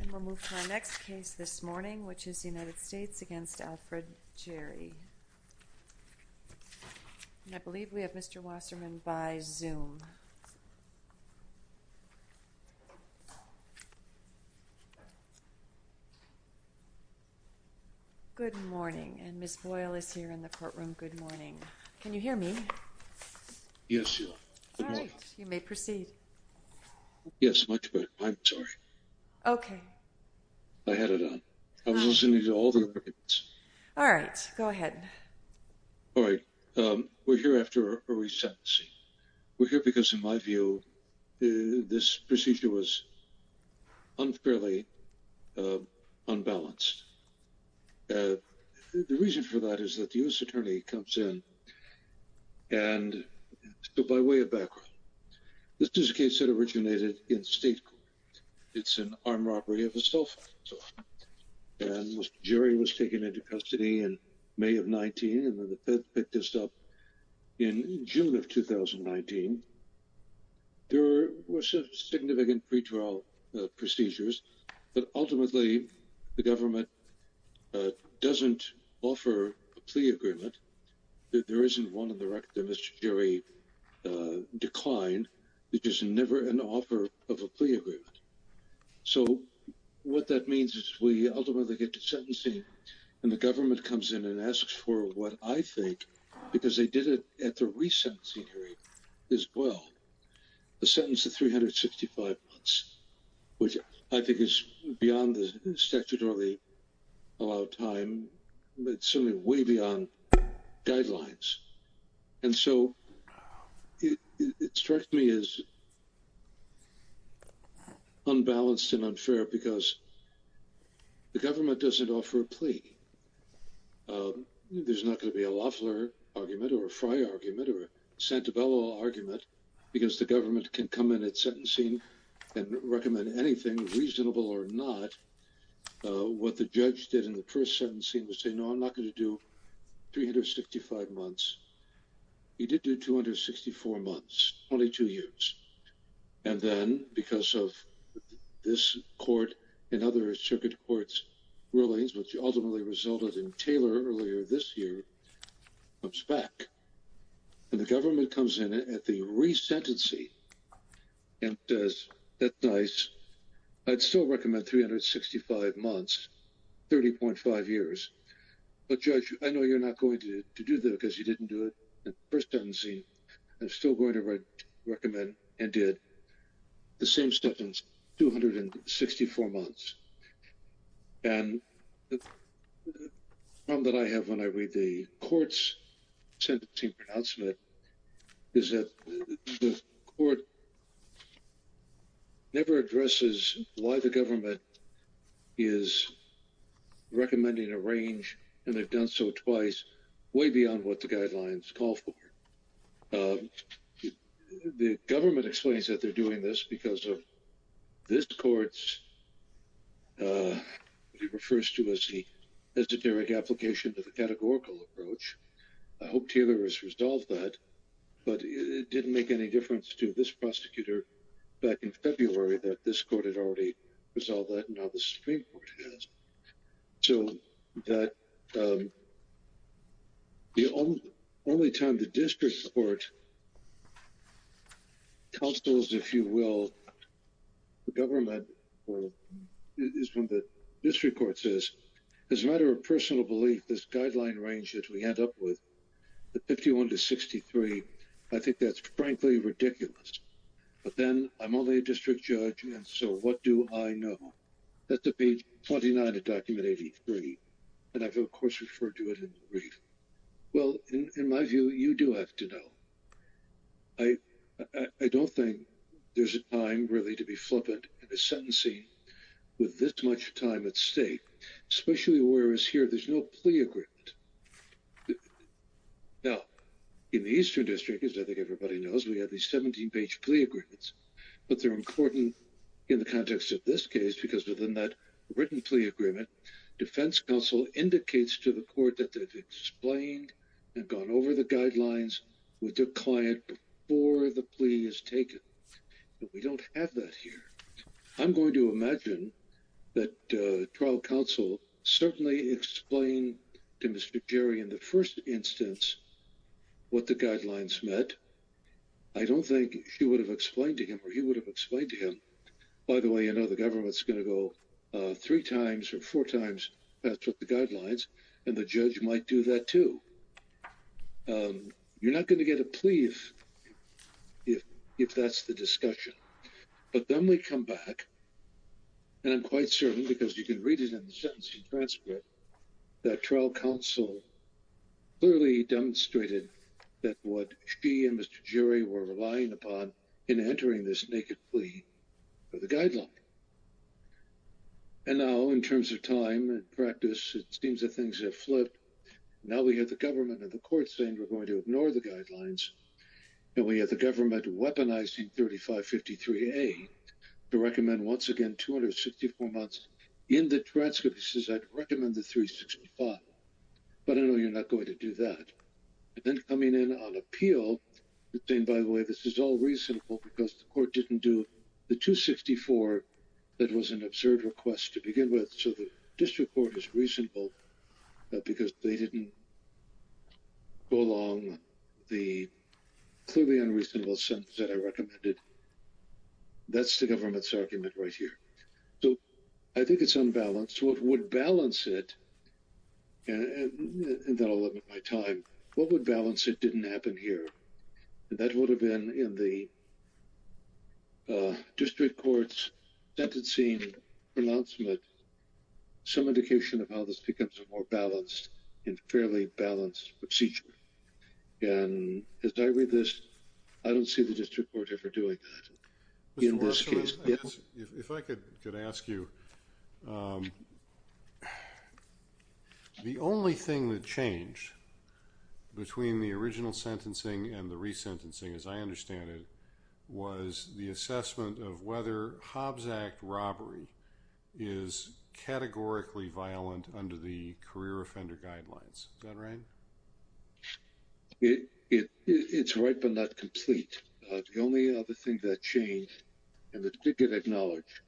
And we'll move to our next case this morning, which is the United States against Alfred Jerry. And I believe we have Mr. Wasserman by Zoom. Good morning. And Ms. Boyle is here in the courtroom. Good morning. Can you hear me? Yes, you. Good morning. All right. You may proceed. Yes, much better. I'm sorry. Okay. I had it on. I was listening to all the arguments. All right. Go ahead. All right. We're here after a resentencing. We're here because, in my view, this procedure was unfairly unbalanced. The reason for that is that the U.S. Attorney comes in and, by way of background, this is a case that originated in state court. It's an armed robbery of a cell phone. And Mr. Jerry was taken into custody in May of 19, and then the feds picked this up in June of 2019. There were some significant pretrial procedures, but ultimately the government doesn't offer a plea agreement. There isn't one in the record that Mr. Jerry declined. There's never an offer of a plea agreement. So what that means is we ultimately get to sentencing, and the government comes in and asks for what I think, because they did it at the resentencing hearing as well, a sentence of 365 months, which I think is beyond the statutorily allowed time. It's certainly way beyond guidelines. And so it struck me as unbalanced and unfair because the government doesn't offer a plea. There's not going to be a Loeffler argument or a Frey argument or a Santabello argument because the government can come in at sentencing and recommend anything, reasonable or not. What the judge did in the first sentencing was say, no, I'm not going to do 365 months. He did do 264 months, 22 years. And then because of this court and other circuit courts rulings, which ultimately resulted in Taylor earlier this year, comes back and the government comes in at the resentencing and says, that's nice. I'd still recommend 365 months, 30.5 years. But, Judge, I know you're not going to do that because you didn't do it at the first sentencing. I'm still going to recommend and did the same sentence, 264 months. And the problem that I have when I read the court's sentencing pronouncement is that the court never addresses why the government is recommending a range. And they've done so twice, way beyond what the guidelines call for. The government explains that they're doing this because of this court's, what he refers to as the esoteric application of the categorical approach. I hope Taylor has resolved that. But it didn't make any difference to this prosecutor back in February that this court had already resolved that and now the Supreme Court has. So the only time the district court counsels, if you will, the government is when the district court says, as a matter of personal belief, this guideline range that we end up with, the 51 to 63, I think that's frankly ridiculous. But then I'm only a district judge. And so what do I know? That's page 29 of document 83. And I've, of course, referred to it in the brief. Well, in my view, you do have to know. I don't think there's a time really to be flippant in a sentencing with this much time at stake, especially whereas here there's no plea agreement. Now, in the Eastern District, as I think everybody knows, we have these 17 page plea agreements. But they're important in the context of this case because within that written plea agreement, defense counsel indicates to the court that they've explained and gone over the guidelines with their client before the plea is taken. But we don't have that here. I'm going to imagine that trial counsel certainly explained to Mr. Jerry in the first instance what the guidelines meant. I don't think she would have explained to him or he would have explained to him. By the way, I know the government's going to go three times or four times with the guidelines, and the judge might do that, too. You're not going to get a plea if that's the discussion. But then we come back. And I'm quite certain because you can read it in the sentencing transcript that trial counsel clearly demonstrated that what she and Mr. Jerry were relying upon in entering this naked plea for the guideline. And now in terms of time and practice, it seems that things have flipped. Now we have the government and the court saying we're going to ignore the guidelines. And we have the government weaponizing 3553A to recommend once again 264 months in the transcript. It says I'd recommend the 365. But I know you're not going to do that. And then coming in on appeal, saying, by the way, this is all reasonable because the court didn't do the 264 that was an absurd request to begin with. So the district court is reasonable because they didn't go along the clearly unreasonable sentence that I recommended. That's the government's argument right here. So I think it's unbalanced. So it would balance it. And then I'll limit my time. What would balance it didn't happen here. That would have been in the district court's sentencing pronouncement some indication of how this becomes a more balanced and fairly balanced procedure. And as I read this, I don't see the district court ever doing that in this case. If I could ask you. The only thing that changed between the original sentencing and the resentencing, as I understand it, was the assessment of whether Hobbs Act robbery is categorically violent under the career offender guidelines. Is that right? It's right, but not complete. The only other thing that changed and the ticket acknowledged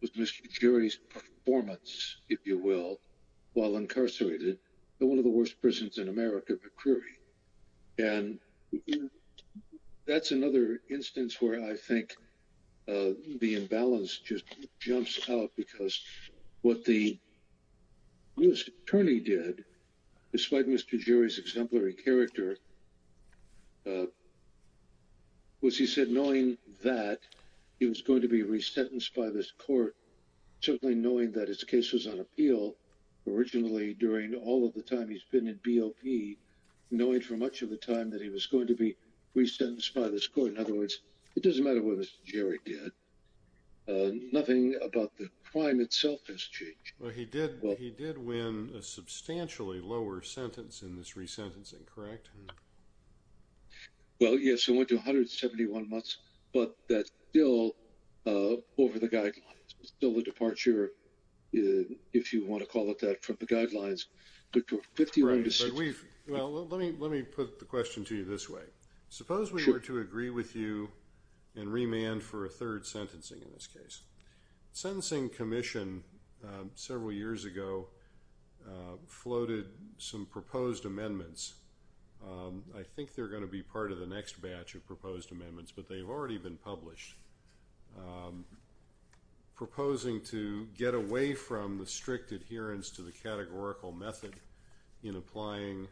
was Mr. Jerry's performance, if you will, while incarcerated in one of the worst prisons in America, McCreary. And that's another instance where I think the imbalance just jumps out because what the attorney did, despite Mr. was, he said, knowing that he was going to be resentenced by this court, certainly knowing that his case was on appeal originally during all of the time he's been in BOP, knowing for much of the time that he was going to be resentenced by this court. In other words, it doesn't matter what this Jerry did. Nothing about the crime itself has changed. Well, he did. He did win a substantially lower sentence in this resentencing. Correct. Well, yes, I went to 171 months, but that's still over the guidelines. Still the departure. If you want to call it that from the guidelines, but we've. Well, let me let me put the question to you this way. Suppose we were to agree with you and remand for a third sentencing in this case, sentencing commission several years ago floated some proposed amendments. I think they're going to be part of the next batch of proposed amendments, but they've already been published. Proposing to get away from the strict adherence to the categorical method in applying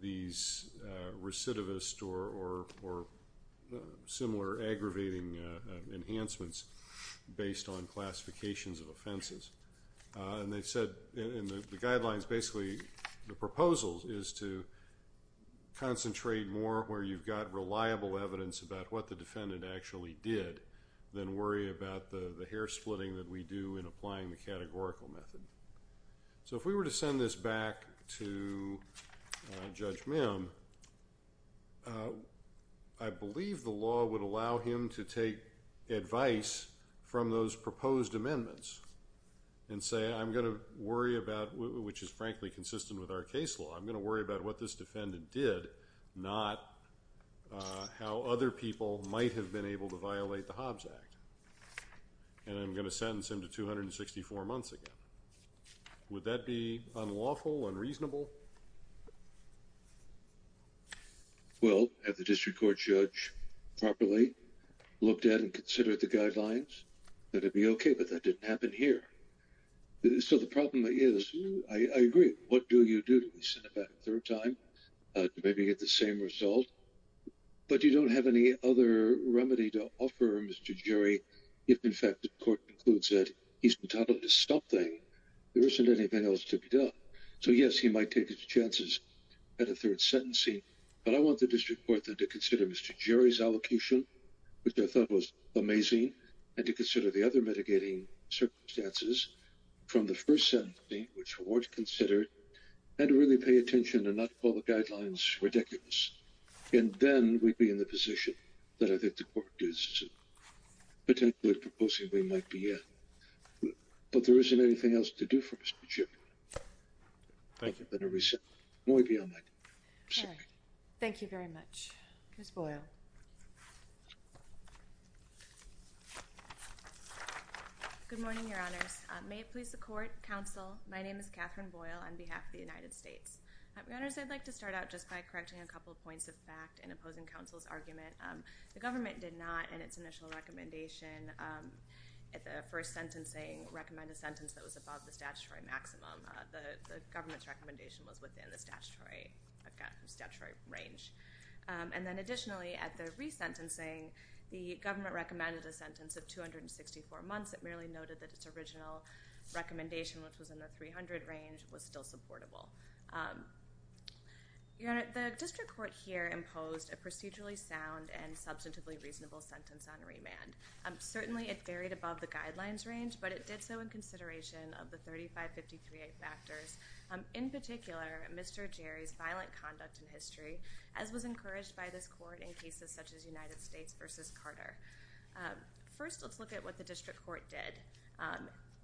these recidivist or similar aggravating enhancements based on classifications of offenses. And they said in the guidelines, basically the proposals is to concentrate more where you've got reliable evidence about what the defendant actually did than worry about the hair splitting that we do in applying the categorical method. So if we were to send this back to Judge Mim, I believe the law would allow him to take advice from those proposed amendments and say, I'm going to worry about which is frankly consistent with our case law. I'm going to worry about what this defendant did, not how other people might have been able to violate the Hobbs Act. And I'm going to sentence him to 264 months again. Would that be unlawful, unreasonable? Well, at the district court judge properly looked at and considered the guidelines that would be OK, but that didn't happen here. So the problem is, I agree. What do you do to send it back a third time to maybe get the same result? But you don't have any other remedy to offer him, Mr. Jerry, if in fact the court concludes that he's entitled to something. There isn't anything else to be done. So, yes, he might take his chances at a third sentencing. But I want the district court to consider Mr. Jerry's allocation, which I thought was amazing, and to consider the other mitigating circumstances from the first sentencing, which weren't considered, and to really pay attention and not call the guidelines ridiculous. And then we'd be in the position that I think the court is potentially proposing we might be in. But there isn't anything else to do for Mr. Thank you. Thank you very much. Ms. Boyle. Good morning, Your Honors. May it please the court, counsel, my name is Catherine Boyle on behalf of the United States. Your Honors, I'd like to start out just by correcting a couple of points of fact in opposing counsel's argument. The government did not, in its initial recommendation, at the first sentencing, recommend a sentence that was above the statutory maximum. The government's recommendation was within the statutory range. And then additionally, at the resentencing, the government recommended a sentence of 264 months. It merely noted that its original recommendation, which was in the 300 range, was still supportable. Your Honor, the district court here imposed a procedurally sound and substantively reasonable sentence on remand. Certainly it varied above the guidelines range, but it did so in consideration of the 3553A factors. In particular, Mr. Jerry's violent conduct in history, as was encouraged by this court in cases such as United States v. Carter. First, let's look at what the district court did.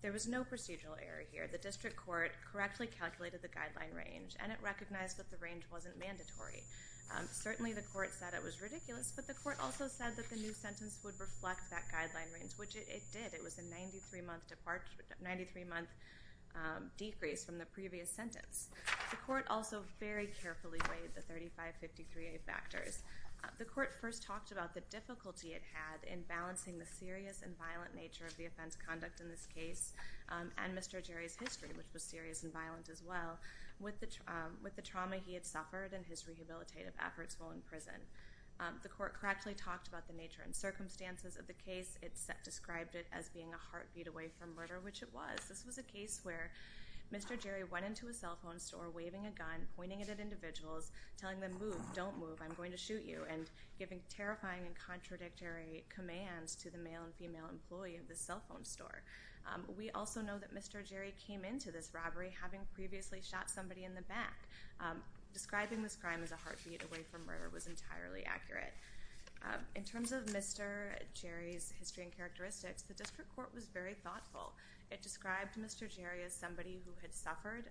There was no procedural error here. The district court correctly calculated the guideline range, and it recognized that the range wasn't mandatory. Certainly the court said it was ridiculous, but the court also said that the new sentence would reflect that guideline range, which it did. It was a 93-month decrease from the previous sentence. The court also very carefully weighed the 3553A factors. The court first talked about the difficulty it had in balancing the serious and violent nature of the offense conduct in this case, and Mr. Jerry's history, which was serious and violent as well, with the trauma he had suffered and his rehabilitative efforts while in prison. The court correctly talked about the nature and circumstances of the case. It described it as being a heartbeat away from murder, which it was. This was a case where Mr. Jerry went into a cell phone store waving a gun, pointing it at individuals, telling them, move, don't move, I'm going to shoot you, and giving terrifying and contradictory commands to the male and female employee of the cell phone store. We also know that Mr. Jerry came into this robbery having previously shot somebody in the back. Describing this crime as a heartbeat away from murder was entirely accurate. In terms of Mr. Jerry's history and characteristics, the district court was very thoughtful. It described Mr. Jerry as somebody who had suffered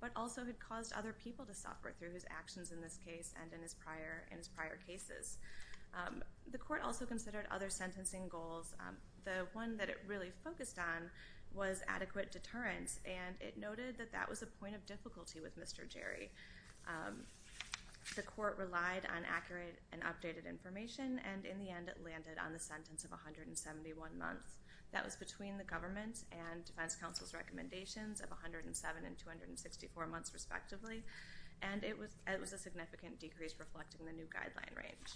but also had caused other people to suffer through his actions in this case and in his prior cases. The court also considered other sentencing goals. The one that it really focused on was adequate deterrence, and it noted that that was a point of difficulty with Mr. Jerry. The court relied on accurate and updated information, and in the end it landed on the sentence of 171 months. That was between the government and defense counsel's recommendations of 107 and 264 months respectively, and it was a significant decrease reflecting the new guideline range.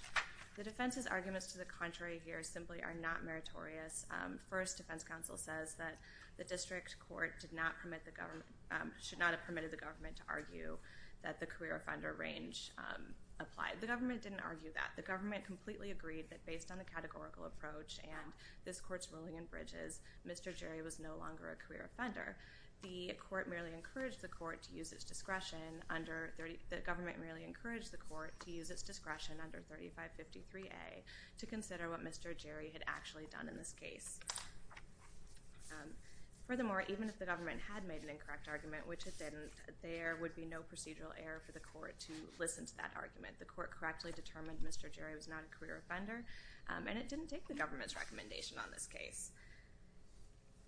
The defense's arguments to the contrary here simply are not meritorious. First, defense counsel says that the district court should not have permitted the government to argue that the career offender range applied. The government didn't argue that. The government completely agreed that based on the categorical approach and this court's ruling in Bridges, Mr. Jerry was no longer a career offender. The government merely encouraged the court to use its discretion under 3553A to consider what Mr. Jerry had actually done in this case. Furthermore, even if the government had made an incorrect argument, which it didn't, there would be no procedural error for the court to listen to that argument. The court correctly determined Mr. Jerry was not a career offender, and it didn't take the government's recommendation on this case.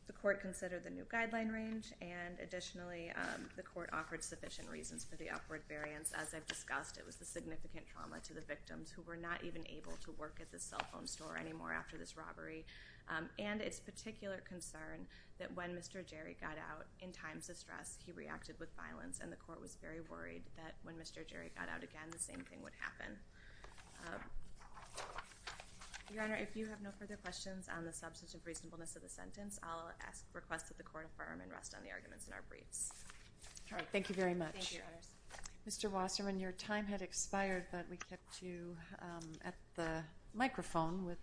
The court considered the new guideline range, and additionally, the court offered sufficient reasons for the upward variance. As I've discussed, it was the significant trauma to the victims who were not even able to work at the cell phone store anymore after this robbery, and its particular concern that when Mr. Jerry got out in times of stress, he reacted with violence, and the court was very worried that when Mr. Jerry got out again, the same thing would happen. Your Honor, if you have no further questions on the substance of reasonableness of the sentence, I'll request that the court affirm and rest on the arguments in our briefs. Thank you very much. Thank you, Your Honors. Mr. Wasserman, your time had expired, but we kept you at the microphone with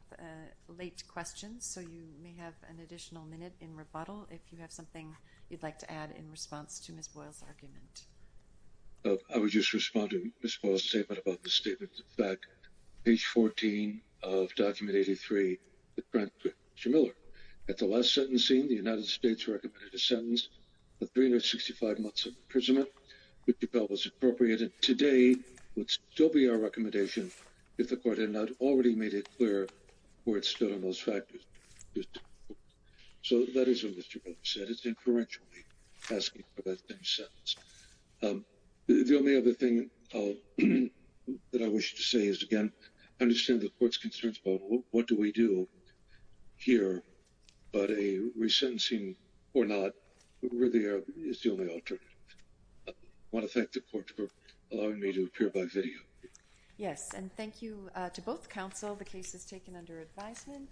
late questions, so you may have an additional minute in rebuttal if you have something you'd like to add in response to Ms. Boyle's argument. I would just respond to Ms. Boyle's statement about the statement. In fact, page 14 of Document 83, Mr. Miller, at the last sentencing, the United States recommended a sentence of 365 months imprisonment, which we felt was appropriate, and today would still be our recommendation if the court had not already made it clear where it stood on those factors. So that is what Mr. Miller said. It's inferentially asking for that same sentence. The only other thing that I wish to say is, again, I understand the court's concerns about what do we do here, but a resentencing or not really is the only alternative. I want to thank the court for allowing me to appear by video. Yes, and thank you to both counsel. The case is taken under advisement.